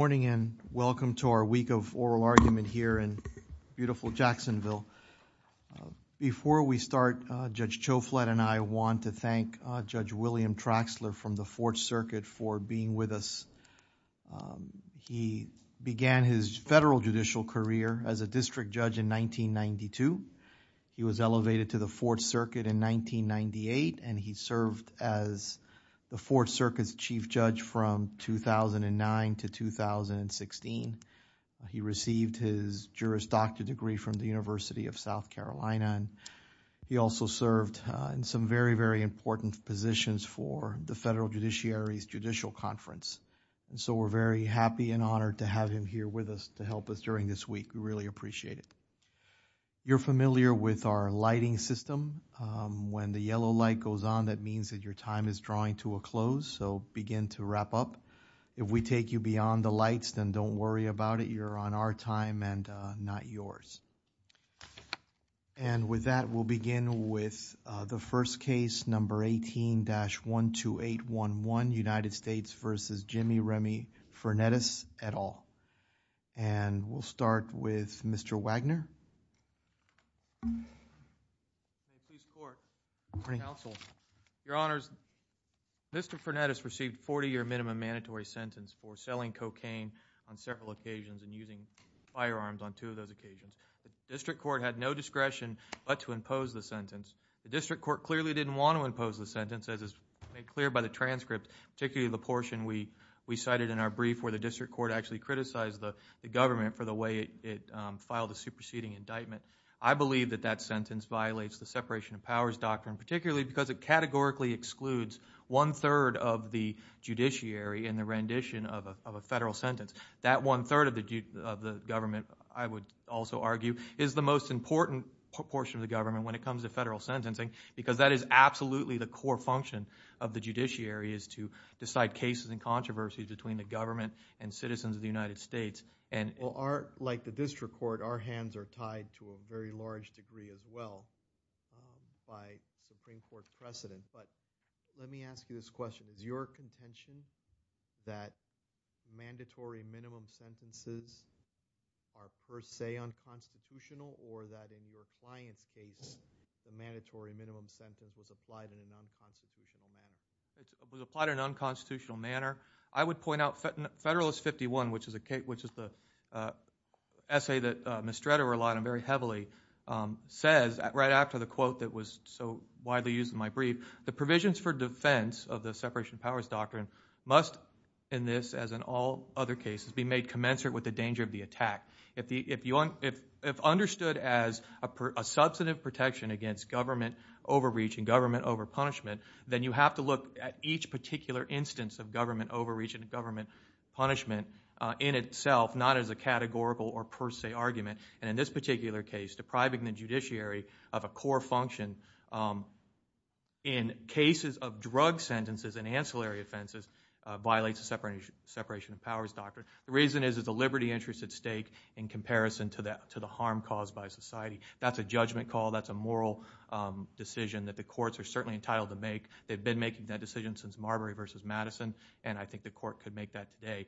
Good morning and welcome to our week of oral argument here in beautiful Jacksonville. Before we start, Judge Chouflette and I want to thank Judge William Traxler from the Fourth Circuit for being with us. He began his federal judicial career as a district judge in 1992. He was elevated to the Fourth Circuit in 1998 and he He received his Juris Doctor degree from the University of South Carolina and he also served in some very, very important positions for the Federal Judiciary's Judicial Conference. So, we're very happy and honored to have him here with us to help us during this week. We really appreciate it. You're familiar with our lighting system. When the yellow light goes on, that means that your time is to wrap up. If we take you beyond the lights, then don't worry about it. You're on our time and not yours. And with that, we'll begin with the first case number 18-12811, United States versus Jimmy Remy Fernetus et al. And we'll start with Mr. Wagner. Good morning, Counsel. Your Honors, Mr. Fernetus received a 40-year minimum mandatory sentence for selling cocaine on several occasions and using firearms on two of those occasions. The district court had no discretion but to impose the sentence. The district court clearly didn't want to impose the sentence as is made clear by the transcript, particularly the portion we we cited in our brief where the district court actually criticized the government for the way it filed the superseding indictment. I believe that that sentence violates the separation of powers doctrine, particularly because it categorically excludes one-third of the judiciary in the rendition of a federal sentence. That one-third of the government, I would also argue, is the most important portion of the government when it comes to federal sentencing because that is absolutely the core function of the judiciary is to decide cases and controversies between the government and citizens of the United States. And like the district court, our hands are tied to a very large degree as well by Supreme Court precedent. But let me ask you this question. Is your contention that mandatory minimum sentences are per se unconstitutional or that in your client's case, the mandatory minimum sentence was applied in an unconstitutional manner? It was applied in an unconstitutional manner. I would point out Federalist 51, which is the essay that Ms. Stretter relied on very heavily, says right after the quote that was so widely used in my brief, the provisions for defense of the separation of powers doctrine must, in this as in all other cases, be made commensurate with the danger of the attack. If understood as a substantive protection against government overreach and government overpunishment, then you have to look at each particular instance of government in itself, not as a categorical or per se argument. And in this particular case, depriving the judiciary of a core function in cases of drug sentences and ancillary offenses violates the separation of powers doctrine. The reason is it's a liberty interest at stake in comparison to the harm caused by society. That's a judgment call. That's a moral decision that the courts are certainly entitled to make. They've been making that decision since Marbury v. Madison, and I think the court could make that today.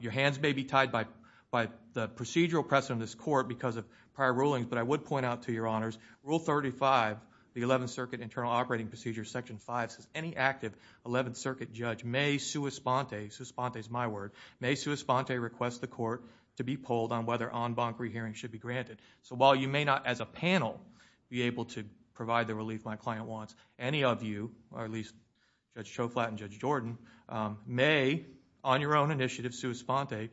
Your hands may be tied by the procedural precedent of this court because of prior rulings, but I would point out to your honors, Rule 35, the 11th Circuit Internal Operating Procedure, Section 5, says any active 11th Circuit judge may sua sponte, sua sponte is my word, may sua sponte request the court to be polled on whether en banc rehearing should be granted. So while you may not, as a panel, be able to provide the relief my client wants, any of you, or at least Judge Schoflat and Judge Jordan, may on your own initiative sua sponte,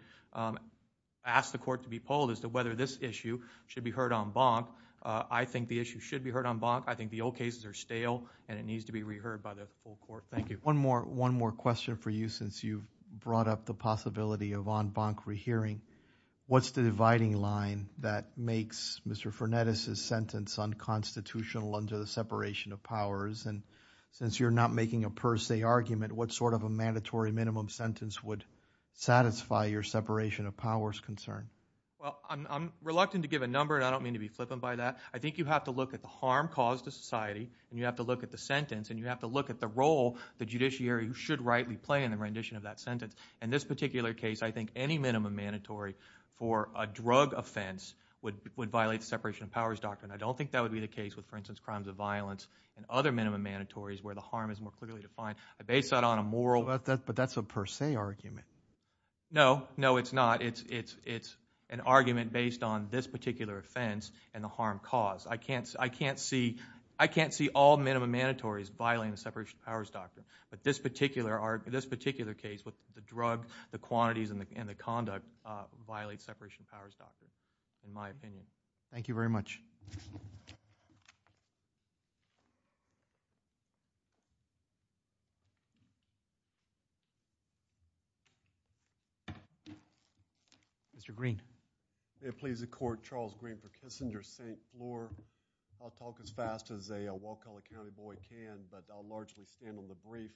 ask the court to be polled as to whether this issue should be heard en banc. I think the issue should be heard en banc. I think the old cases are stale and it needs to be reheard by the full court. Thank you. One more, one more question for you since you brought up the possibility of en banc rehearing. What's the dividing line that makes Mr. Fernandez's sentence unconstitutional under the separation of powers? And since you're not making a per se argument, what sort of a mandatory minimum sentence would satisfy your separation of powers concern? Well, I'm reluctant to give a number and I don't mean to be flippant by that. I think you have to look at the harm caused to society and you have to look at the sentence and you have to look at the role the judiciary should rightly play in the rendition of that sentence. In this particular case, I think any minimum mandatory for a drug offense would violate the separation of powers doctrine. I don't think that would be the case with, for instance, crimes of violence and other minimum mandatories where the harm is more clearly defined. I base that on a moral But that's a per se argument. No, no it's not. It's an argument based on this particular offense and the harm caused. I can't see, I can't see, I can't see all minimum mandatories violating the separation of powers doctrine. But this particular case with the drug, the quantities and the conduct violate separation of powers doctrine, in my opinion. Thank you very much. Mr. Green. If it pleases the court, Charles Green for Kissinger, St. Floor. I'll talk as fast as a Waukala County boy can, but I'll largely stand on the brief.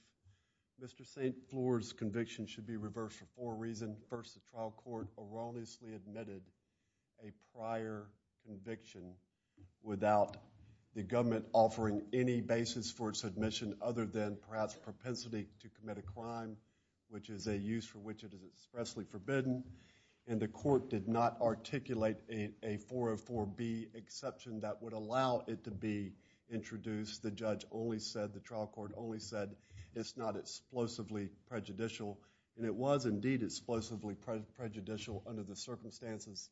Mr. St. Floor's conviction should be reversed for four reasons. First, the trial court erroneously admitted a prior conviction without the government offering any basis for its admission other than perhaps propensity to commit a crime, which is a use for which it is expressly forbidden. And the court did not articulate a 404B exception that would allow it to be introduced. The judge only said, the trial court only said, it's not explosively prejudicial. And it was indeed explosively prejudicial under the circumstances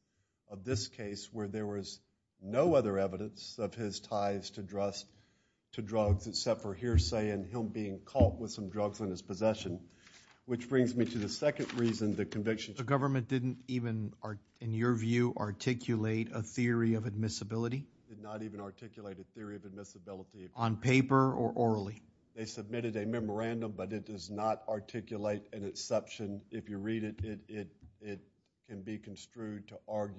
of this case where there was no other evidence of his ties to drugs except for hearsay and him being caught with some drugs in his possession. Which brings me to the second reason, the conviction. The government didn't even, in your view, articulate a theory of admissibility? Did not even articulate a theory of admissibility. On paper or orally? They submitted a memorandum, but it does not articulate an exception. If you read it, it can be used for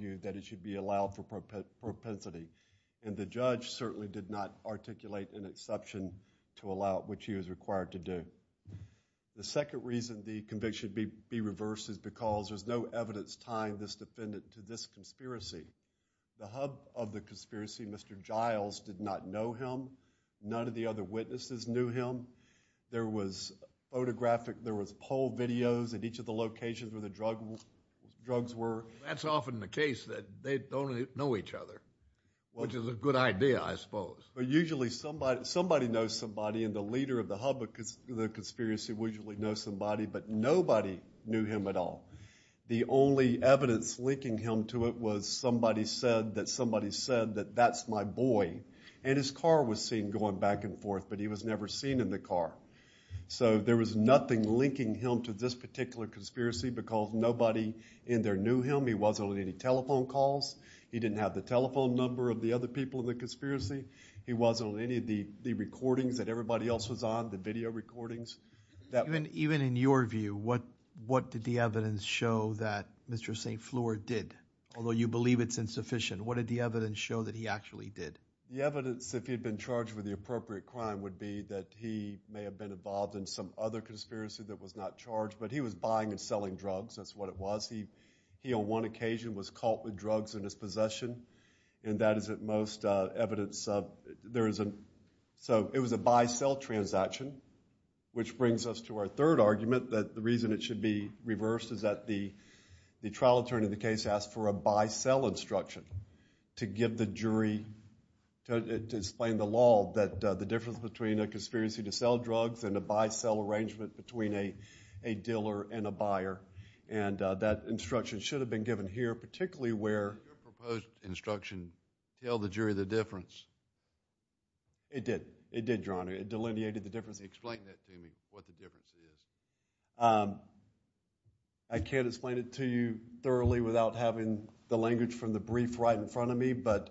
propensity. And the judge certainly did not articulate an exception to allow it, which he was required to do. The second reason the conviction should be reversed is because there's no evidence tying this defendant to this conspiracy. The hub of the conspiracy, Mr. Giles, did not know him. None of the other witnesses knew him. There was photographic, there was poll videos at each of the locations where the drugs were. That's often the case that they don't know each other, which is a good idea, I suppose. But usually somebody, somebody knows somebody and the leader of the hub of the conspiracy would usually know somebody, but nobody knew him at all. The only evidence linking him to it was somebody said that somebody said that that's my boy. And his car was seen going back and forth, but he was never seen in the car. So there was nothing linking him to this particular conspiracy because nobody in there knew him. He wasn't on any telephone calls. He didn't have the telephone number of the other people in the conspiracy. He wasn't on any of the recordings that everybody else was on, the video recordings. Even in your view, what did the evidence show that Mr. St. Fleur did? Although you believe it's insufficient, what did the evidence show that he actually did? The evidence, if he'd been charged with the appropriate crime, would be that he may have been involved in some other conspiracy that was not charged, but he was buying and selling drugs. That's what it was. He on one occasion was caught with drugs in his possession, and that is at most evidence of, there is a, so it was a buy-sell transaction, which brings us to our third argument that the reason it should be reversed is that the trial attorney of the case asked for a buy-sell instruction to give the jury, to explain the law that the difference between a conspiracy to sell drugs and a buy-sell arrangement between a dealer and a buyer, and that instruction should have been given here, particularly where Your proposed instruction, tell the jury the difference. It did. It did, Your Honor. It delineated the difference. Explain that to me, what the difference is. I can't explain it to you thoroughly without having the language from the brief right in front of me, but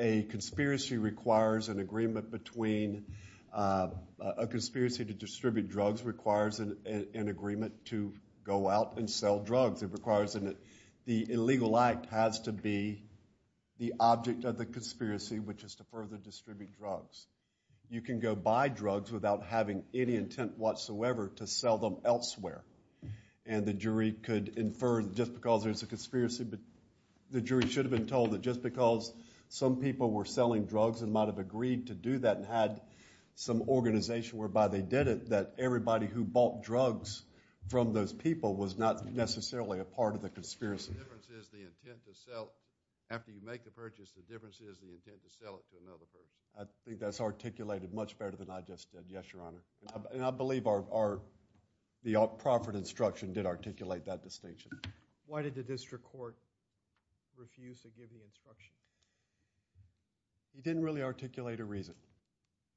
a conspiracy requires an agreement between, a conspiracy to distribute drugs requires an agreement to go out and sell drugs. It requires, the illegal act has to be the object of the conspiracy, which is to further distribute drugs. You can go buy drugs without having any intent whatsoever to sell them elsewhere, and the jury could have been told that just because some people were selling drugs and might have agreed to do that and had some organization whereby they did it, that everybody who bought drugs from those people was not necessarily a part of the conspiracy. The difference is the intent to sell. After you make the purchase, the difference is the intent to sell it to another person. I think that's articulated much better than I just did. Yes, Your Honor. I believe the Crawford instruction did articulate that distinction. Why did the district court refuse to give you instructions? He didn't really articulate a reason.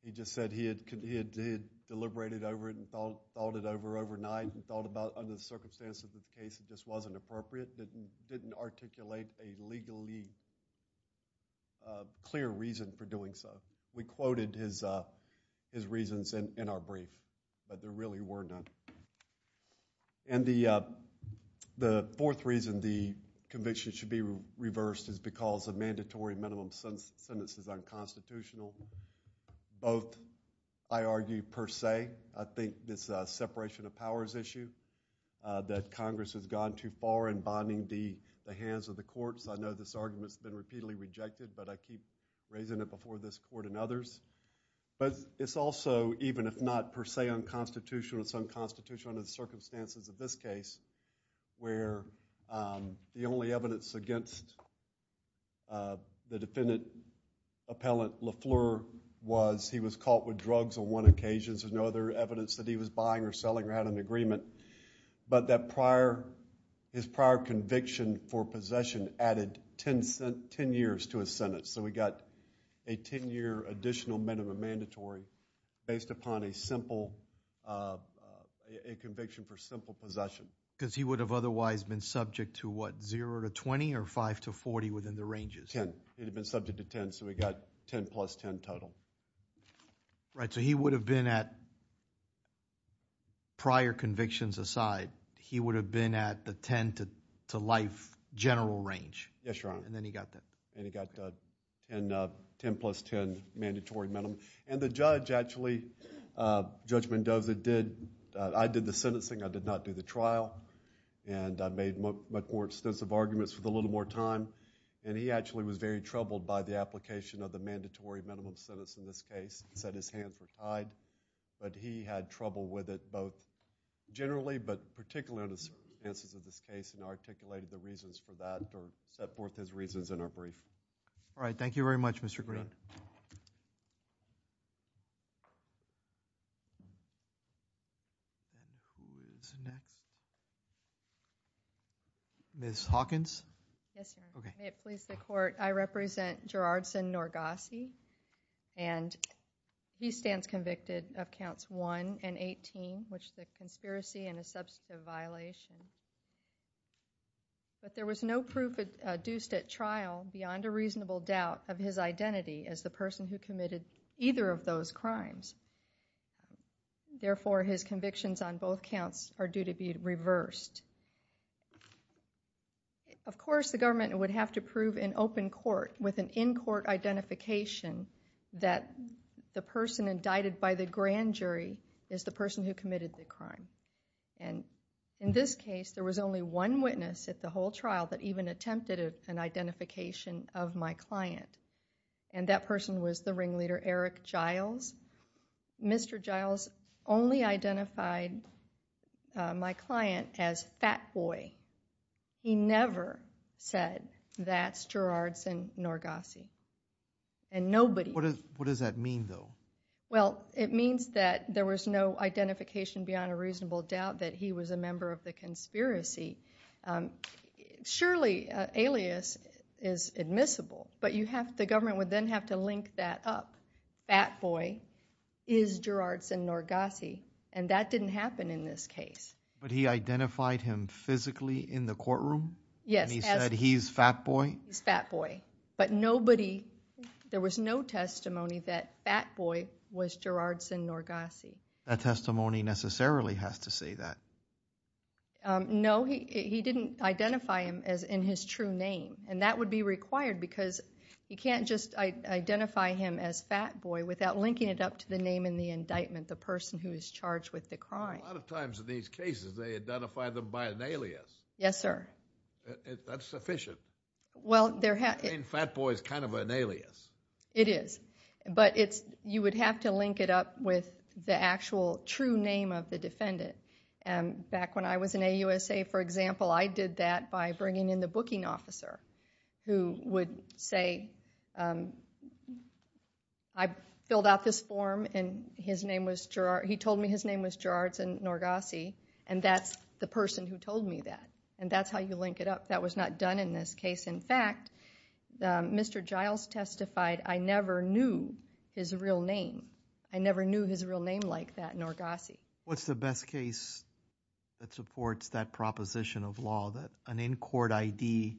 He just said he had deliberated over it and thought it over overnight and thought about under the circumstances of the case that this wasn't appropriate, but he didn't articulate a legally clear reason for doing so. We quoted his reasons in our brief, but there really were none. The fourth reason the conviction should be reversed is because a mandatory minimum sentence is unconstitutional. Both, I argue, per se. I think this separation of powers issue that Congress has gone too far in bonding the hands of the courts. I know this argument has been repeatedly rejected, but I keep raising it before this court and others. It's also, even if not per se unconstitutional, it's unconstitutional under the circumstances of this case where the only evidence against the defendant appellant Lafleur was he was caught with drugs on one occasion. There's no other evidence that he was buying or selling or had an agreement. His prior conviction for possession added ten years to his sentence. We got a ten-year additional minimum mandatory based upon a conviction for simple possession. Because he would have otherwise been subject to what, 0 to 20 or 5 to 40 within the ranges? Ten. He would have been subject to ten, so we got ten plus ten total. He would have been at, prior convictions aside, he would have been at the ten to life general range. Yes, Your Honor. And he got a ten plus ten mandatory minimum. And the judge actually, Judge Mendoza did, I did the sentencing, I did not do the trial. And I made much more extensive arguments with a little more time. And he actually was very troubled by the application of the mandatory minimum sentence in this case. He set his hand for tide. But he had trouble with it both generally, but particularly on the All right, thank you very much, Mr. Green. Ms. Hawkins? Yes, Your Honor. May it please the court, I represent Gerardson Norgasi. And he stands convicted of counts 1 and 18, which is a conspiracy and a substantive violation. But there was no proof adduced at trial beyond a reasonable doubt of his identity as the person who committed either of those crimes. Therefore, his convictions on both counts are due to be reversed. Of course, the government would have to prove in open court with an in-court identification that the person indicted by the grand jury is the person who committed the crime. And in this case, there was only one witness at the whole trial that even attempted an identification of my client. And that person was the ringleader, Eric Giles. Mr. Giles only identified my client as Fat Boy. He never said, that's Gerardson Norgasi. And nobody What does that mean, though? Well, it means that there was no identification beyond a reasonable doubt that he was a member of the conspiracy. Surely, alias is admissible, but the government would then have to link that up. Fat Boy is Gerardson Norgasi. And that didn't happen in this case. But he identified him physically in the courtroom? Yes. And he said, he's Fat Boy? He's Fat Boy. But nobody, there was no testimony that Fat Boy was Gerardson Norgasi. That testimony necessarily has to say that. No, he didn't identify him in his true name. And that would be required because you can't just identify him as Fat Boy without linking it up to the name in the indictment, the person who is charged with the crime. A lot of times in these cases, they identify them by an alias. Yes, sir. That's sufficient. I mean, Fat Boy is kind of an alias. It is. But you would have to link it up with the actual true name of the defendant. Back when I was in AUSA, for example, I did that by bringing in the booking officer who would say, I filled out this form and he told me his name was Gerardson Norgasi. And that's the person who told me that. And that's how you link it up. That was not done in this case. In fact, Mr. Giles testified, I never knew his real name. I never knew his real name like that, Norgasi. What's the best case that supports that proposition of law that an in-court ID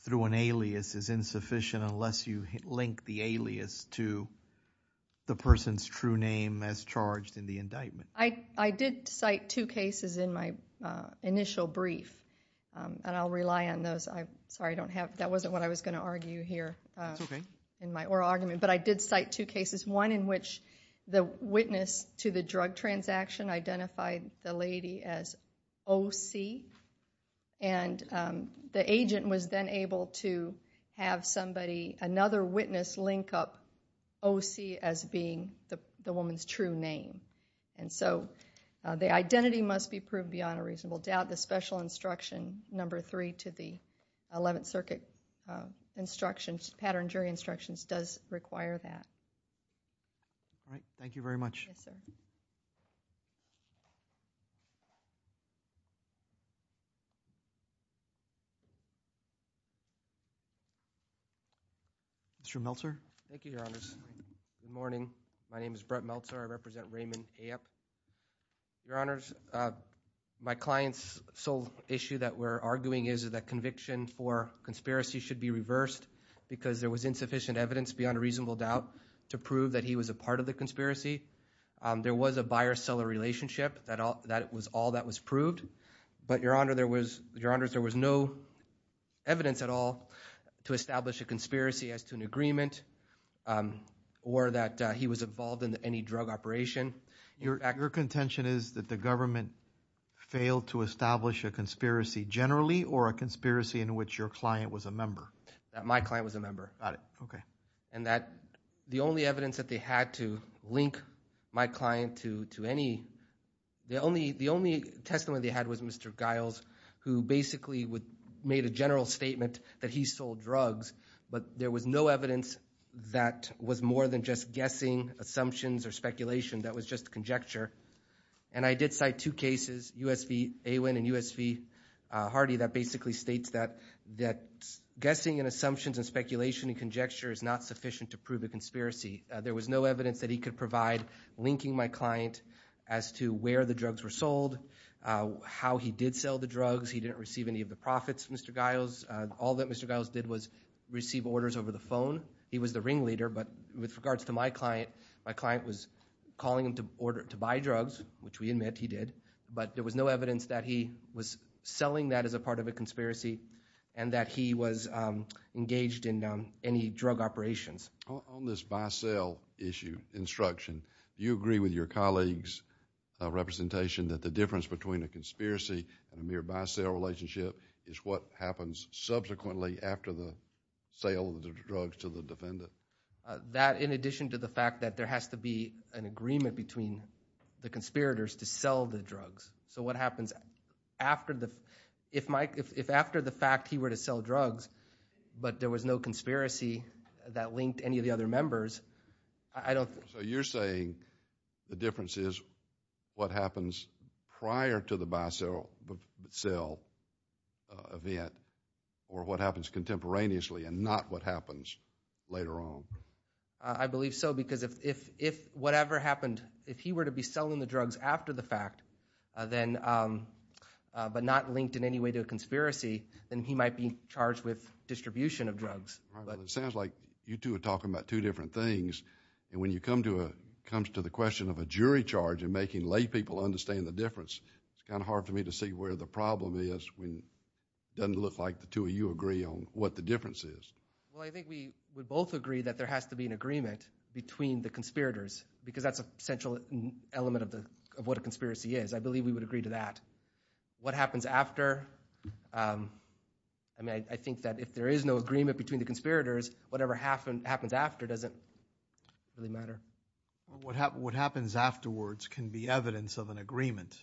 through an alias is insufficient unless you link the alias to the person's true name as charged in the indictment? I did cite two cases in my initial brief. And I'll rely on those. Sorry, I don't have... That wasn't what I was going to argue here in my oral argument. But I did cite two cases, one in which the witness to the drug transaction identified the lady as O.C. And the agent was then able to have somebody, another witness, link up O.C. as being the woman's true name. And so, the identity must be proved beyond a reasonable doubt. The special instruction number three to the Eleventh Circuit instructions, pattern jury instructions, does require that. All right. Thank you very much. Yes, sir. Mr. Meltzer. Thank you, Your Honors. Good morning. My name is Brett Meltzer. I represent Raymond A.F. Your Honors, my client's sole issue that we're arguing is that conviction for conspiracy should be reversed because there was insufficient evidence beyond a reasonable doubt to prove that he was a part of the conspiracy. There was a buyer-seller relationship. That was all that was proved. But, Your Honors, there was no evidence at all to establish a conspiracy as to an agreement or that he was involved in any drug operation. Your contention is that the government failed to establish a conspiracy generally or a conspiracy in which your client was a member? My client was a member. Got it. Okay. And that the only evidence that they had to link my client to any, the only testimony they had was Mr. Giles, who basically made a general statement that he sold drugs, but there was no evidence that was more than just guessing, assumptions, or speculation. That was just conjecture. And I did cite two cases, U.S. v. Awin and U.S. v. Hardy, that basically states that guessing and assumptions and speculation and conjecture is not sufficient to prove a conspiracy. There was no evidence that he could provide linking my client as to where the drugs were sold, how he did sell the drugs. He didn't receive any of the profits, Mr. Giles. All that Mr. Giles did was receive orders over the phone. He was the ringleader, but with regards to my client, my client was calling him to buy drugs, which we admit he did, but there was no evidence that he was selling that as a part of a conspiracy and that he was engaged in any drug operations. On this buy-sell issue, instruction, you agree with your colleague's representation that the difference between a conspiracy and a mere buy-sell relationship is what happens subsequently after the sale of the drugs to the defendant? That, in addition to the fact that there has to be an agreement between the conspirators to sell the drugs. So what happens after the— if after the fact he were to sell drugs, but there was no conspiracy that linked any of the other members, I don't— So you're saying the difference is what happens prior to the buy-sell event or what happens contemporaneously and not what happens later on? I believe so because if whatever happened, if he were to be selling the drugs after the fact, but not linked in any way to a conspiracy, then he might be charged with distribution of drugs. It sounds like you two are talking about two different things, and when you come to the question of a jury charge and making lay people understand the difference, it's kind of hard for me to see where the problem is when it doesn't look like the two of you agree on what the difference is. Well, I think we both agree that there has to be an agreement between the conspirators because that's a central element of what a conspiracy is. I believe we would agree to that. What happens after? I mean, I think that if there is no agreement between the conspirators, whatever happens after doesn't really matter. What happens afterwards can be evidence of an agreement.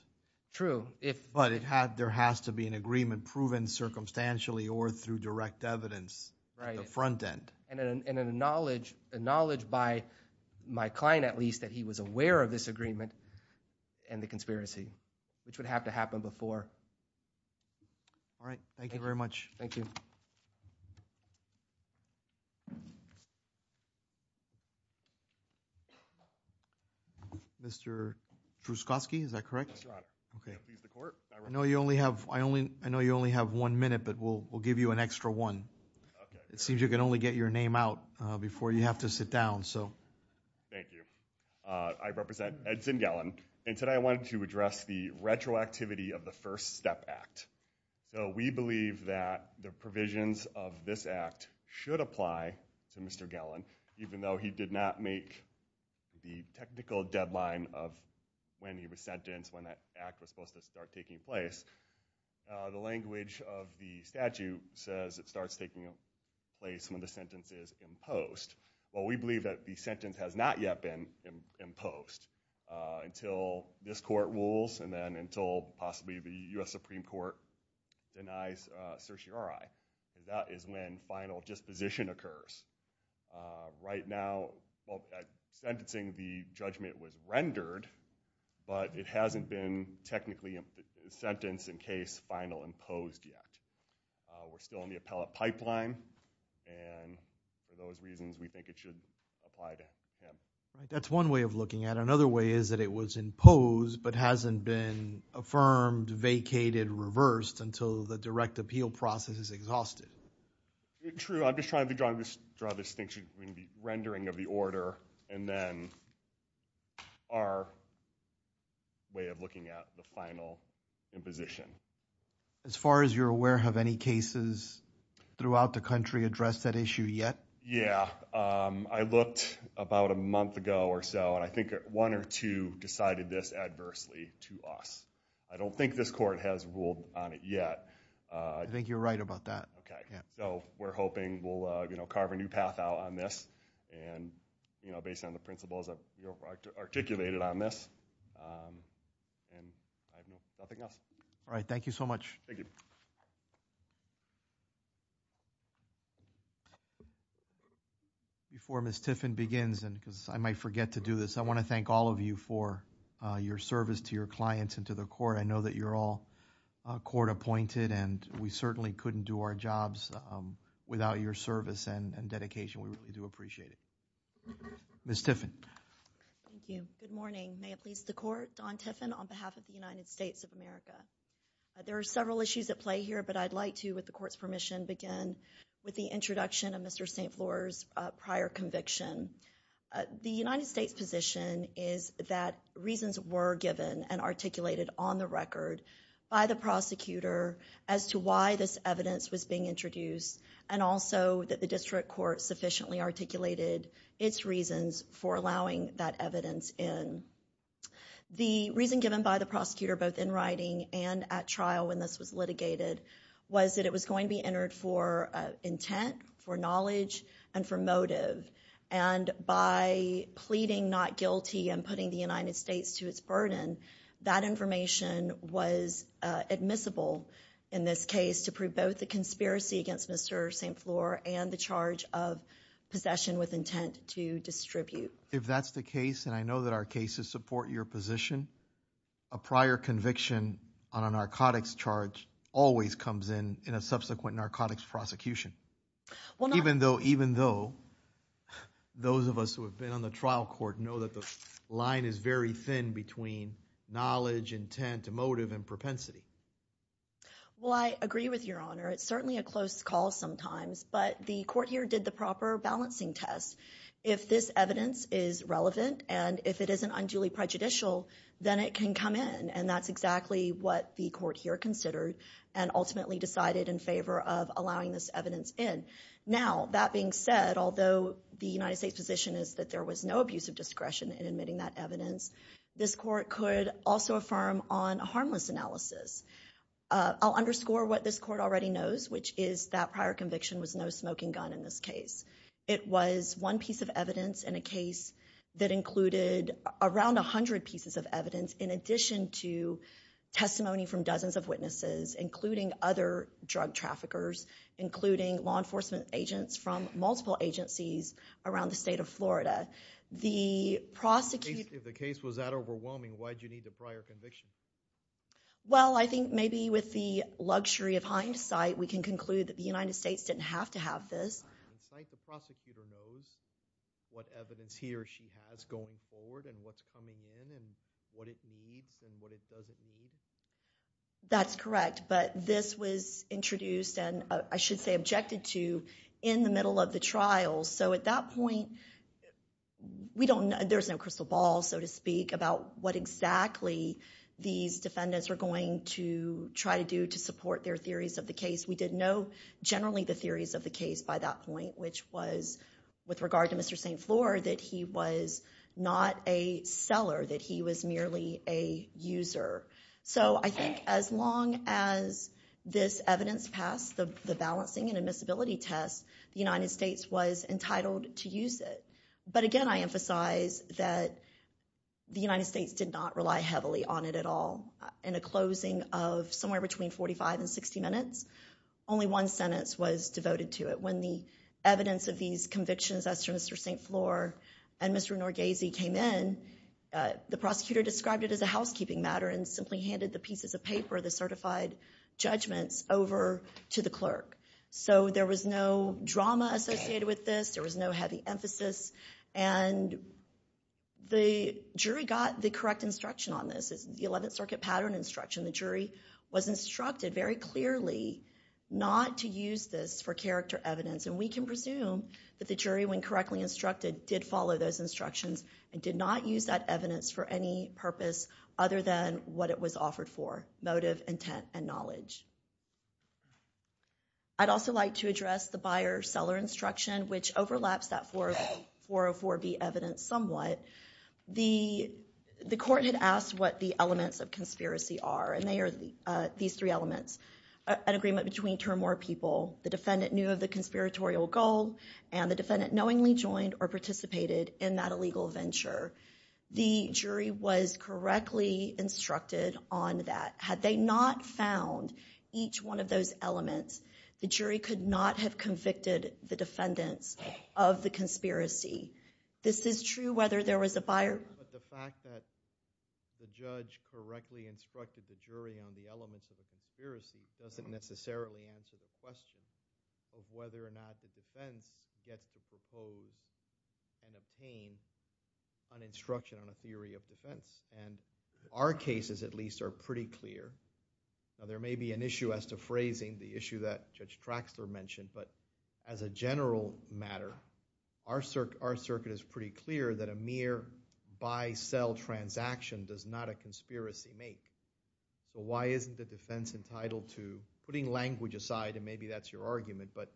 True. But there has to be an agreement proven circumstantially or through direct evidence at the front end. And a knowledge by my client, at least, that he was aware of this agreement and the conspiracy, which would have to happen before. All right. Thank you very much. Thank you. Mr. Druskoski, is that correct? That's right. I know you only have one minute, but we'll give you an extra one. It seems you can only get your name out before you have to sit down. Thank you. I represent Ed Zingalen, and today I wanted to address the retroactivity of the First Step Act. We believe that the provisions of this act should apply to Mr. Gellin, even though he did not make the technical deadline of when he was sentenced, when that act was supposed to start taking place. The language of the statute says it starts taking place when the sentence is imposed. Well, we believe that the sentence has not yet been imposed until this court rules and then until possibly the U.S. Supreme Court denies certiorari. That is when final disposition occurs. Right now, sentencing the judgment was rendered, but it hasn't been technically sentenced in case final imposed yet. We're still in the appellate pipeline, and for those reasons we think it should apply to him. That's one way of looking at it. Another way is that it was imposed but hasn't been affirmed, vacated, reversed until the direct appeal process is exhausted. True. I'm just trying to draw a distinction between the rendering of the order and then our way of looking at the final imposition. As far as you're aware, have any cases throughout the country addressed that issue yet? Yeah. I looked about a month ago or so, and I think one or two decided this adversely to us. I don't think this court has ruled on it yet. I think you're right about that. Okay. So we're hoping we'll carve a new path out on this and based on the principles articulated on this and nothing else. All right. Thank you so much. Thank you. Before Ms. Tiffin begins, because I might forget to do this, I want to thank all of you for your service to your clients and to the court. I know that you're all court appointed, and we certainly couldn't do our jobs without your service and dedication. We do appreciate it. Ms. Tiffin. Thank you. Good morning. May it please the Court, Don Tiffin on behalf of the United States of America. There are several issues at play here, but I'd like to, with the Court's permission, begin with the introduction of Mr. St. Floor's prior conviction. The United States' position is that reasons were given and articulated on the record by the prosecutor as to why this evidence was being introduced and also that the district court sufficiently articulated its reasons for allowing that evidence in. The reason given by the prosecutor both in writing and at trial when this was litigated was that it was going to be entered for intent, for knowledge, and for motive. And by pleading not guilty and putting the United States to its burden, that information was admissible in this case to prove both the conspiracy against Mr. St. Floor and the charge of possession with intent to distribute. If that's the case, and I know that our cases support your position, a prior conviction on a narcotics charge always comes in in a subsequent narcotics prosecution. Even though those of us who have been on the trial court know that the line is very thin between knowledge, intent, motive, and propensity. Well, I agree with Your Honor. It's certainly a close call sometimes, but the Court here did the proper balancing test. If this evidence is relevant and if it isn't unduly prejudicial, then it can come in, and that's exactly what the Court here considered and ultimately decided in favor of allowing this evidence in. Now, that being said, although the United States' position is that there was no abuse of discretion in admitting that evidence, this Court could also affirm on a harmless analysis. I'll underscore what this Court already knows, which is that prior conviction was no smoking gun in this case. It was one piece of evidence in a case that included around 100 pieces of evidence in addition to testimony from dozens of witnesses, including other drug traffickers, including law enforcement agents from multiple agencies around the state of Florida. If the case was that overwhelming, why did you need the prior conviction? Well, I think maybe with the luxury of hindsight, we can conclude that the United States didn't have to have this. With hindsight, the prosecutor knows what evidence he or she has going forward and what's coming in and what it needs and what it doesn't need? That's correct, but this was introduced and I should say objected to in the middle of the trial. So at that point, we don't know. There's no crystal ball, so to speak, about what exactly these defendants were going to try to do to support their theories of the case. We did know generally the theories of the case by that point, which was with regard to Mr. St. Floor, that he was not a seller, that he was merely a user. So I think as long as this evidence passed the balancing and admissibility test, the United States was entitled to use it. But again, I emphasize that the United States did not rely heavily on it at all. In a closing of somewhere between 45 and 60 minutes, only one sentence was devoted to it. When the evidence of these convictions as to Mr. St. Floor and Mr. Norgese came in, the prosecutor described it as a housekeeping matter and simply handed the pieces of paper, the certified judgments, over to the clerk. So there was no drama associated with this, there was no heavy emphasis, and the jury got the correct instruction on this. This is the Eleventh Circuit pattern instruction. The jury was instructed very clearly not to use this for character evidence, and we can presume that the jury, when correctly instructed, did follow those instructions and did not use that evidence for any purpose other than what it was offered for, motive, intent, and knowledge. I'd also like to address the buyer-seller instruction, which overlaps that 404B evidence somewhat. The court had asked what the elements of conspiracy are, and they are these three elements. An agreement between two or more people, the defendant knew of the conspiratorial goal, and the defendant knowingly joined or participated in that illegal venture. The jury was correctly instructed on that. Had they not found each one of those elements, the jury could not have convicted the defendants of the conspiracy. This is true whether there was a buyer... But the fact that the judge correctly instructed the jury on the elements of the conspiracy doesn't necessarily answer the question of whether or not the defense gets to propose and obtain an instruction on a theory of defense. Our cases, at least, are pretty clear. There may be an issue as to phrasing the issue that Judge Traxler mentioned, but as a general matter, our circuit is pretty clear that a mere buy-sell transaction does not a conspiracy make. Why isn't the defense entitled to... Putting language aside, and maybe that's your argument, but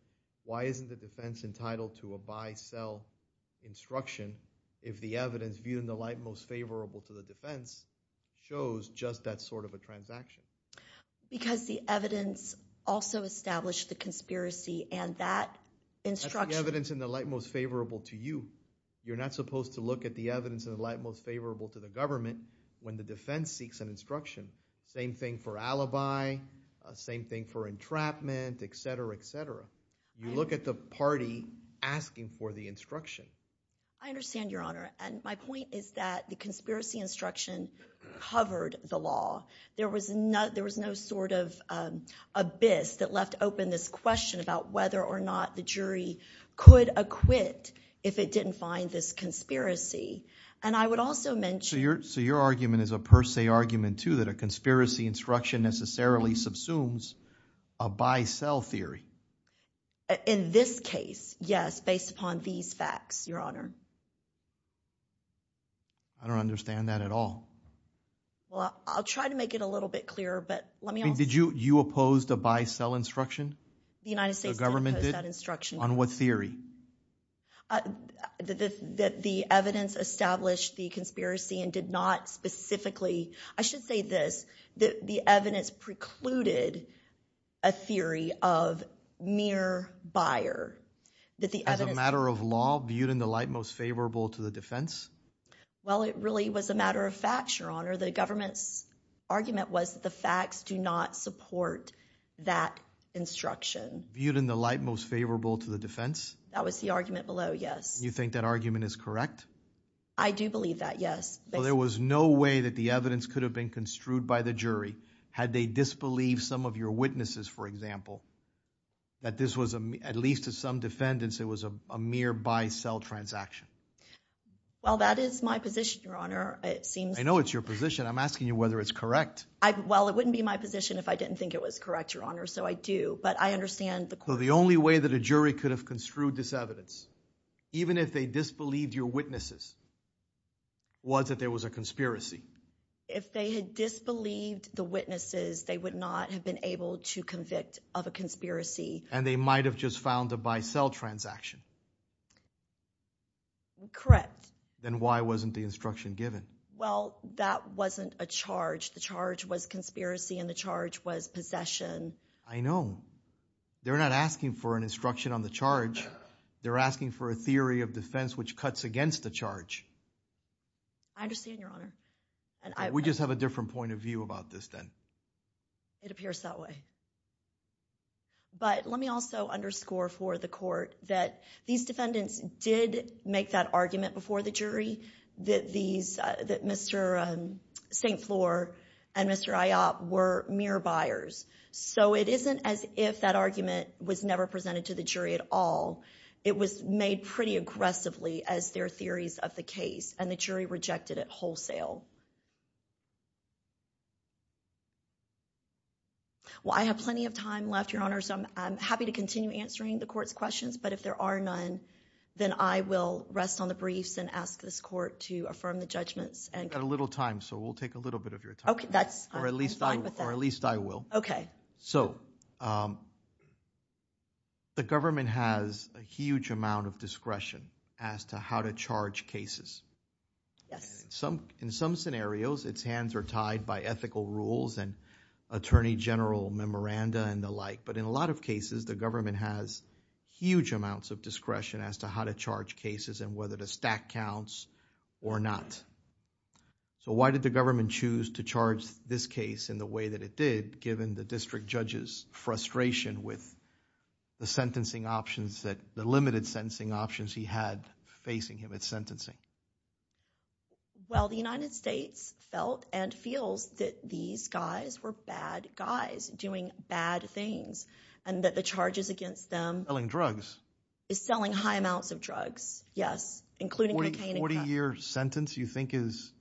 why isn't the defense entitled to a buy-sell instruction if the evidence viewed in the light most favorable to the defense shows just that sort of a transaction? Because the evidence also established the conspiracy and that instruction... That's the evidence in the light most favorable to you. You're not supposed to look at the evidence in the light most favorable to the government when the defense seeks an instruction. Same thing for alibi, same thing for entrapment, etc., etc. You look at the party asking for the instruction. I understand, Your Honor, and my point is that the conspiracy instruction covered the law. There was no sort of abyss that left open this question about whether or not the jury could acquit if it didn't find this conspiracy. And I would also mention... So your argument is a per se argument, too, that a conspiracy instruction necessarily subsumes a buy-sell theory. In this case, yes, based upon these facts, Your Honor. I don't understand that at all. Well, I'll try to make it a little bit clearer, but let me also... Did you oppose the buy-sell instruction? The United States did oppose that instruction. On what theory? That the evidence established the conspiracy and did not specifically... I should say this, that the evidence precluded a theory of mere buyer. As a matter of law viewed in the light most favorable to the defense? Well, it really was a matter of fact, Your Honor. The government's argument was that the facts do not support that instruction. Viewed in the light most favorable to the defense? That was the argument below, yes. You think that argument is correct? I do believe that, yes. Well, there was no way that the evidence could have been construed by the jury had they disbelieved some of your witnesses, for example, that this was, at least to some defendants, it was a mere buy-sell transaction. Well, that is my position, Your Honor. It seems... I know it's your position. I'm asking you whether it's correct. Well, it wouldn't be my position if I didn't think it was correct, Your Honor, so I do. But I understand the... So the only way that a jury could have construed this evidence, even if they disbelieved your witnesses, was that there was a conspiracy? If they had disbelieved the witnesses, they would not have been able to convict of a conspiracy. And they might have just found a buy-sell transaction. Correct. Then why wasn't the instruction given? Well, that wasn't a charge. The charge was conspiracy and the charge was possession. I know. They're not asking for an instruction on the charge. They're asking for a theory of defense which cuts against the charge. I understand, Your Honor. We just have a different point of view about this then. It appears that way. But let me also underscore for the court that these defendants did make that argument before the jury that Mr. St. Floor and Mr. Ayotte were mere buyers. So it isn't as if that argument was never presented to the jury at all. It was made pretty aggressively as their theories of the case, and the jury rejected it wholesale. Well, I have plenty of time left, Your Honor, so I'm happy to continue answering the court's questions. But if there are none, then I will rest on the briefs and ask this court to affirm the judgments. You've got a little time, so we'll take a little bit of your time. Or at least I will. Okay. So the government has a huge amount of discretion as to how to charge cases. Yes. In some scenarios, its hands are tied by ethical rules and attorney general memoranda and the like. But in a lot of cases, the government has huge amounts of discretion as to how to charge cases and whether the stack counts or not. So why did the government choose to charge this case in the way that it did, given the district judge's frustration with the sentencing options that... Well, the United States felt and feels that these guys were bad guys doing bad things and that the charges against them... Selling drugs.... is selling high amounts of drugs, yes, including cocaine and... A 40-year sentence you think is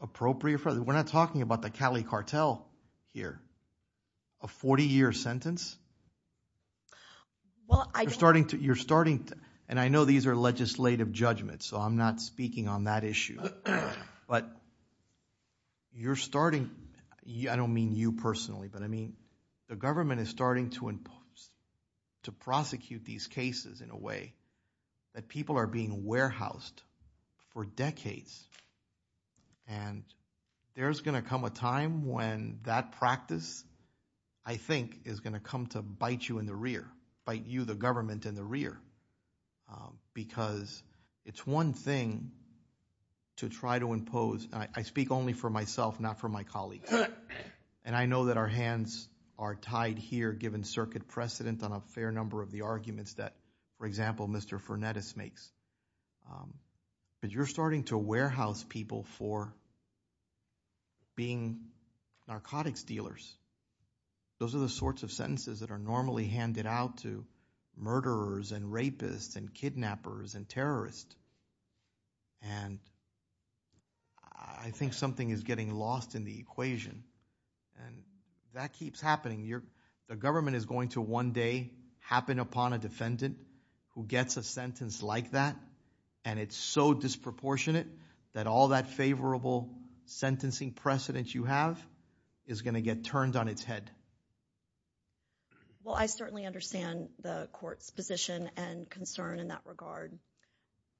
appropriate? We're not talking about the Cali cartel here. A 40-year sentence? You're starting to... But you're starting... I don't mean you personally, but I mean the government is starting to prosecute these cases in a way that people are being warehoused for decades. And there's going to come a time when that practice, I think, is going to come to bite you in the rear, bite you, the government, in the rear because it's one thing to try to impose... I speak only for myself, not for my colleagues. And I know that our hands are tied here, given circuit precedent, on a fair number of the arguments that, for example, Mr. Fernandez makes. But you're starting to warehouse people for being narcotics dealers. Those are the sorts of sentences that are normally handed out to murderers and rapists and kidnappers and terrorists. And I think something is getting lost in the equation. And that keeps happening. The government is going to one day happen upon a defendant who gets a sentence like that, and it's so disproportionate that all that favorable sentencing precedent you have is going to get turned on its head. Well, I certainly understand the court's position and concern in that regard.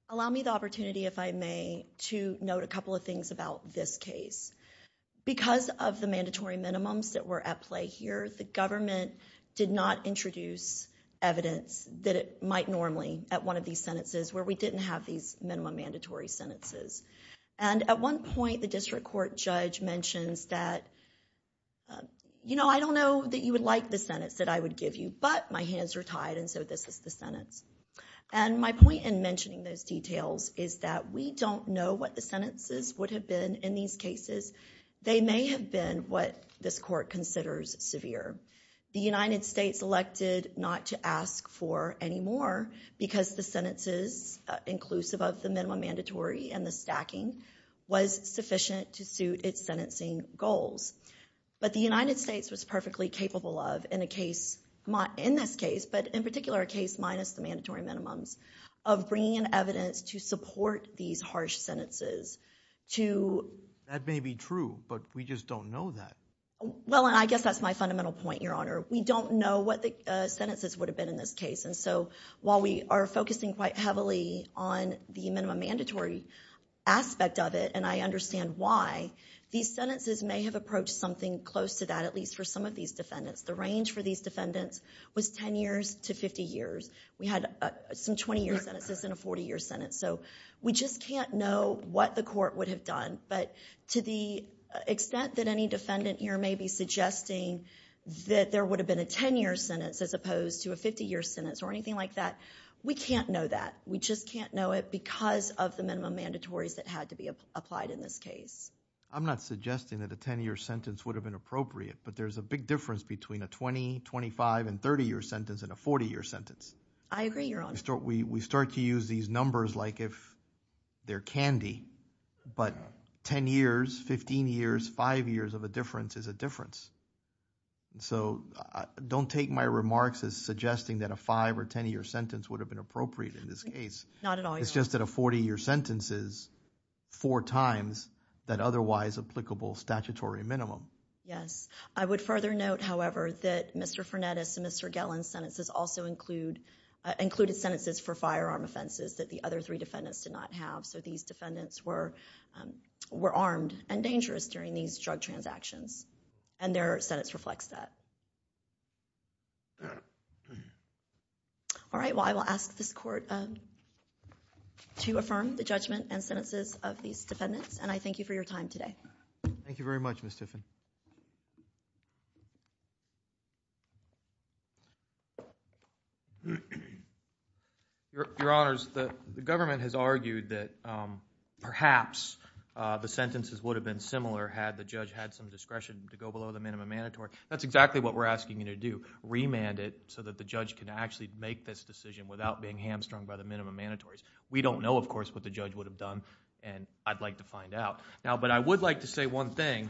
Allow me the opportunity, if I may, to note a couple of things about this case. Because of the mandatory minimums that were at play here, the government did not introduce evidence that it might normally at one of these sentences where we didn't have these minimum mandatory sentences. And at one point, the district court judge mentions that, you know, I don't know that you would like the sentence that I would give you, but my hands are tied and so this is the sentence. And my point in mentioning those details is that we don't know what the sentences would have been in these cases. They may have been what this court considers severe. The United States elected not to ask for any more because the sentences inclusive of the minimum mandatory and the stacking was sufficient to suit its sentencing goals. But the United States was perfectly capable of, in this case, but in particular a case minus the mandatory minimums, of bringing in evidence to support these harsh sentences to... That may be true, but we just don't know that. Well, and I guess that's my fundamental point, Your Honor. We don't know what the sentences would have been in this case. And so while we are focusing quite heavily on the minimum mandatory aspect of it, and I understand why, these sentences may have approached something close to that, at least for some of these defendants. The range for these defendants was 10 years to 50 years. We had some 20-year sentences and a 40-year sentence. So we just can't know what the court would have done. But to the extent that any defendant here may be suggesting that there would have been a 10-year sentence as opposed to a 50-year sentence or anything like that, we can't know that. We just can't know it because of the minimum mandatories that had to be applied in this case. I'm not suggesting that a 10-year sentence would have been appropriate, but there's a big difference between a 20-, 25-, and 30-year sentence and a 40-year sentence. I agree, Your Honor. We start to use these numbers like if they're candy, but 10 years, 15 years, 5 years of a difference is a difference. So don't take my remarks as suggesting that a 5- or 10-year sentence would have been appropriate in this case. Not at all, Your Honor. It's just that a 40-year sentence is four times that otherwise applicable statutory minimum. Yes. I would further note, however, that Mr. Fernandes and Mr. Gellin's sentences also included sentences for firearm offenses that the other three defendants did not have. So these defendants were armed and dangerous during these drug transactions. Their sentence reflects that. All right. Well, I will ask this court to affirm the judgment and sentences of these defendants. I thank you for your time today. Thank you very much, Ms. Tiffin. Your Honors, the government has argued that perhaps the sentences would have been similar had the judge had some discretion to go below the minimum mandatory. That's exactly what we're asking you to do. Remand it so that the judge can actually make this decision without being hamstrung by the minimum mandatory. We don't know, of course, what the judge would have done, and I'd like to find out. But I would like to say one thing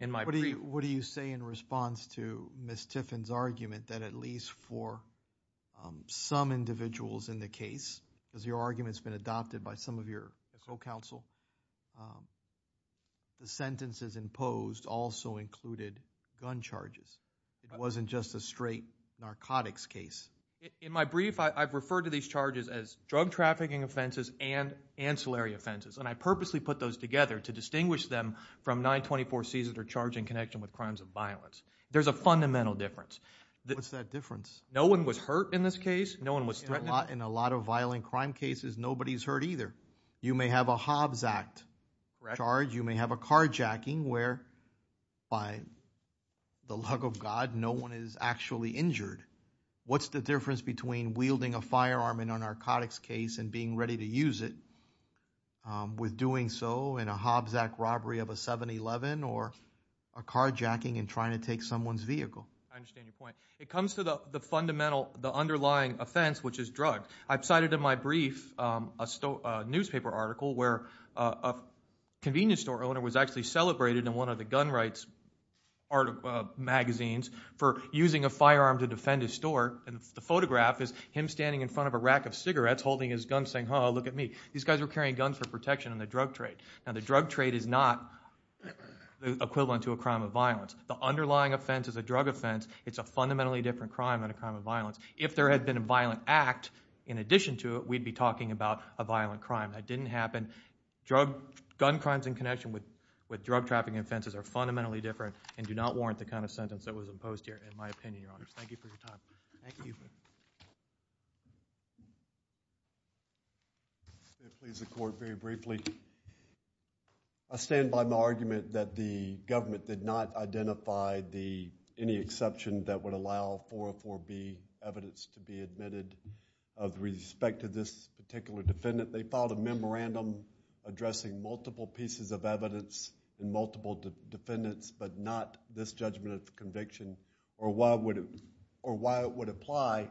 in my brief... What do you say in response to Ms. Tiffin's argument that at least for some the sentences imposed also included gun charges? It wasn't just a straight narcotics case. In my brief, I've referred to these charges as drug trafficking offenses and ancillary offenses, and I purposely put those together to distinguish them from 924C's that are charged in connection with crimes of violence. There's a fundamental difference. What's that difference? No one was hurt in this case. No one was threatened. In a lot of violent crime cases, nobody's hurt either. You may have a Hobbs Act charge. You may have a carjacking where, by the luck of God, no one is actually injured. What's the difference between wielding a firearm in a narcotics case and being ready to use it with doing so in a Hobbs Act robbery of a 7-Eleven or a carjacking and trying to take someone's vehicle? I understand your point. It comes to the underlying offense, which is drug. I've cited in my brief a newspaper article where a convenience store owner was actually celebrated in one of the gun rights magazines for using a firearm to defend his store, and the photograph is him standing in front of a rack of cigarettes holding his gun, saying, oh, look at me. These guys were carrying guns for protection in the drug trade. Now, the drug trade is not equivalent to a crime of violence. The underlying offense is a drug offense. It's a fundamentally different crime than a crime of violence. If there had been a violent act in addition to it, we'd be talking about a violent crime. That didn't happen. Gun crimes in connection with drug trafficking offenses are fundamentally different and do not warrant the kind of sentence that was imposed here, in my opinion. Thank you for your time. Thank you. If I could please the Court very briefly. I stand by my argument that the government did not identify any exception that would allow 404B evidence to be admitted of respect to this particular defendant. They filed a memorandum addressing multiple pieces of evidence in multiple defendants but not this judgment of conviction or why it would apply,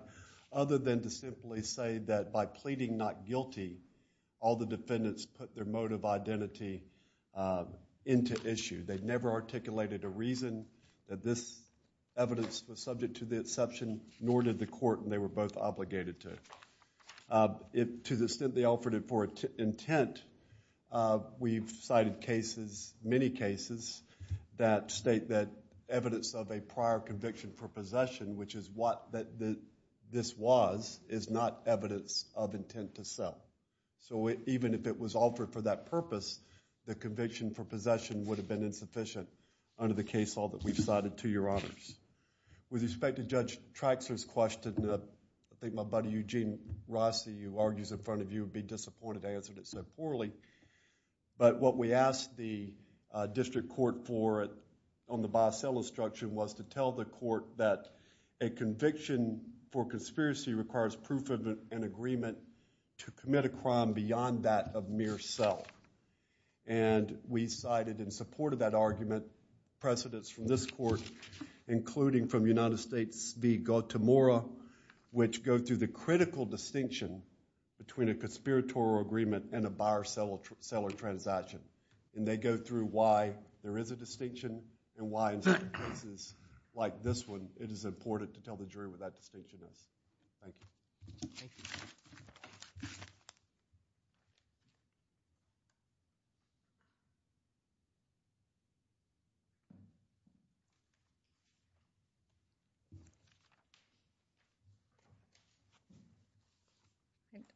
other than to simply say that by pleading not guilty, all the defendants put their motive identity into issue. They never articulated a reason that this evidence was subject to the exception, nor did the Court, and they were both obligated to. To the extent they offered it for intent, we've cited cases, many cases, that state that evidence of a prior conviction for possession, which is what this was, is not evidence of intent to sell. So even if it was offered for that purpose, the conviction for possession would have been insufficient under the case law that we've cited, to your honors. With respect to Judge Traxler's question, I think my buddy Eugene Rossi, who argues in front of you, would be disappointed to answer it so poorly, but what we asked the district court for on the biosell instruction was to tell the court that a conviction for conspiracy requires proof of an agreement to commit a crime beyond that of mere sell, and we cited in support of that argument precedents from this Court, including from United States v. Guatemala, which go through the critical distinction between a conspiratorial agreement and a buyer-seller transaction, and they go through why there is a distinction, and why in certain cases, like this one, it is important to tell the jury what that distinction is. Thank you.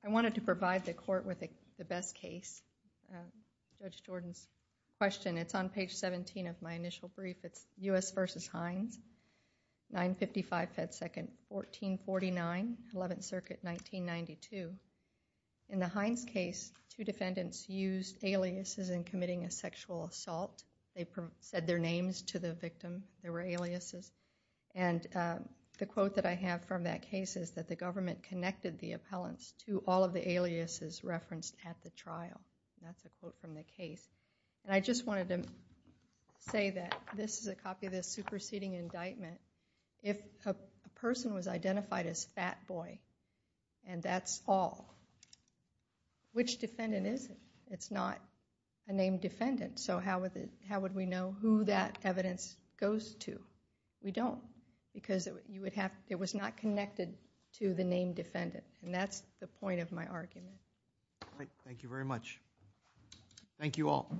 I wanted to provide the court with the best case. Judge Jordan's question, it's on page 17 of my initial brief, it's U.S. v. Hines, 955 Pet Second, 1449, 11th Circuit, 1992. In the Hines case, two defendants used aliases in committing a sexual assault. They said their names to the victim, there were aliases, and the quote that I have from that case is that the government connected the appellants to all of the aliases referenced at the trial. That's a quote from the case. I just wanted to say that this is a copy of the superseding indictment. If a person was identified as fat boy, and that's all, which defendant is it? It's not a named defendant, so how would we know who that evidence goes to? We don't, because it was not connected to the named defendant, and that's the point of my argument. Thank you very much. Thank you all.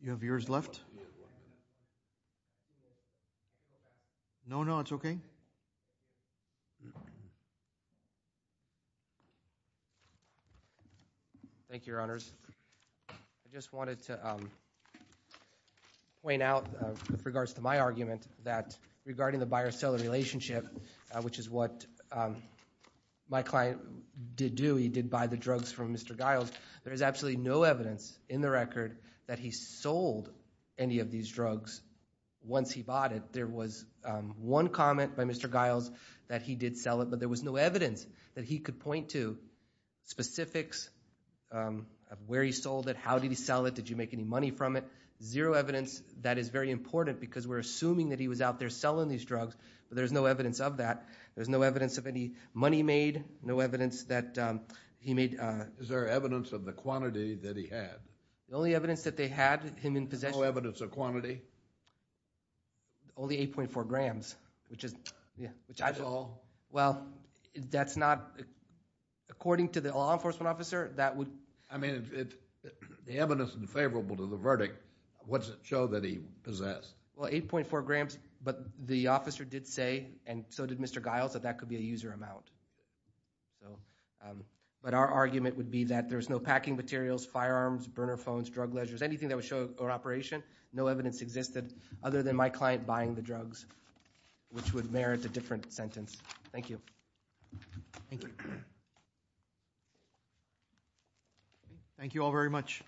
You have yours left? No, no, it's okay. Thank you, Your Honors. I just wanted to point out, with regards to my argument, that regarding the buyer-seller relationship, which is what my client did do. He did buy the drugs from Mr. Giles. There is absolutely no evidence in the record that he sold any of these drugs once he bought it. There was one comment by Mr. Giles that he did sell it, but there was no evidence that he could point to specifics of where he sold it, how did he sell it, did you make any money from it. Zero evidence. That is very important, because we're assuming that he was out there selling these drugs, but there's no evidence of that. There's no evidence of any money made, no evidence that he made... Is there evidence of the quantity that he had? The only evidence that they had him in possession... No evidence of quantity? Only 8.4 grams, which is... That's all? Well, that's not... According to the law enforcement officer, that would... I mean, the evidence is unfavorable to the verdict. What does it show that he possessed? Well, 8.4 grams, but the officer did say, and so did Mr. Giles, that that could be a user amount. But our argument would be that there's no packing materials, firearms, burner phones, drug ledgers, anything that would show an operation. No evidence existed other than my client buying the drugs, which would merit a different sentence. Thank you. Thank you. Thank you. Thank you all very much. Thank you.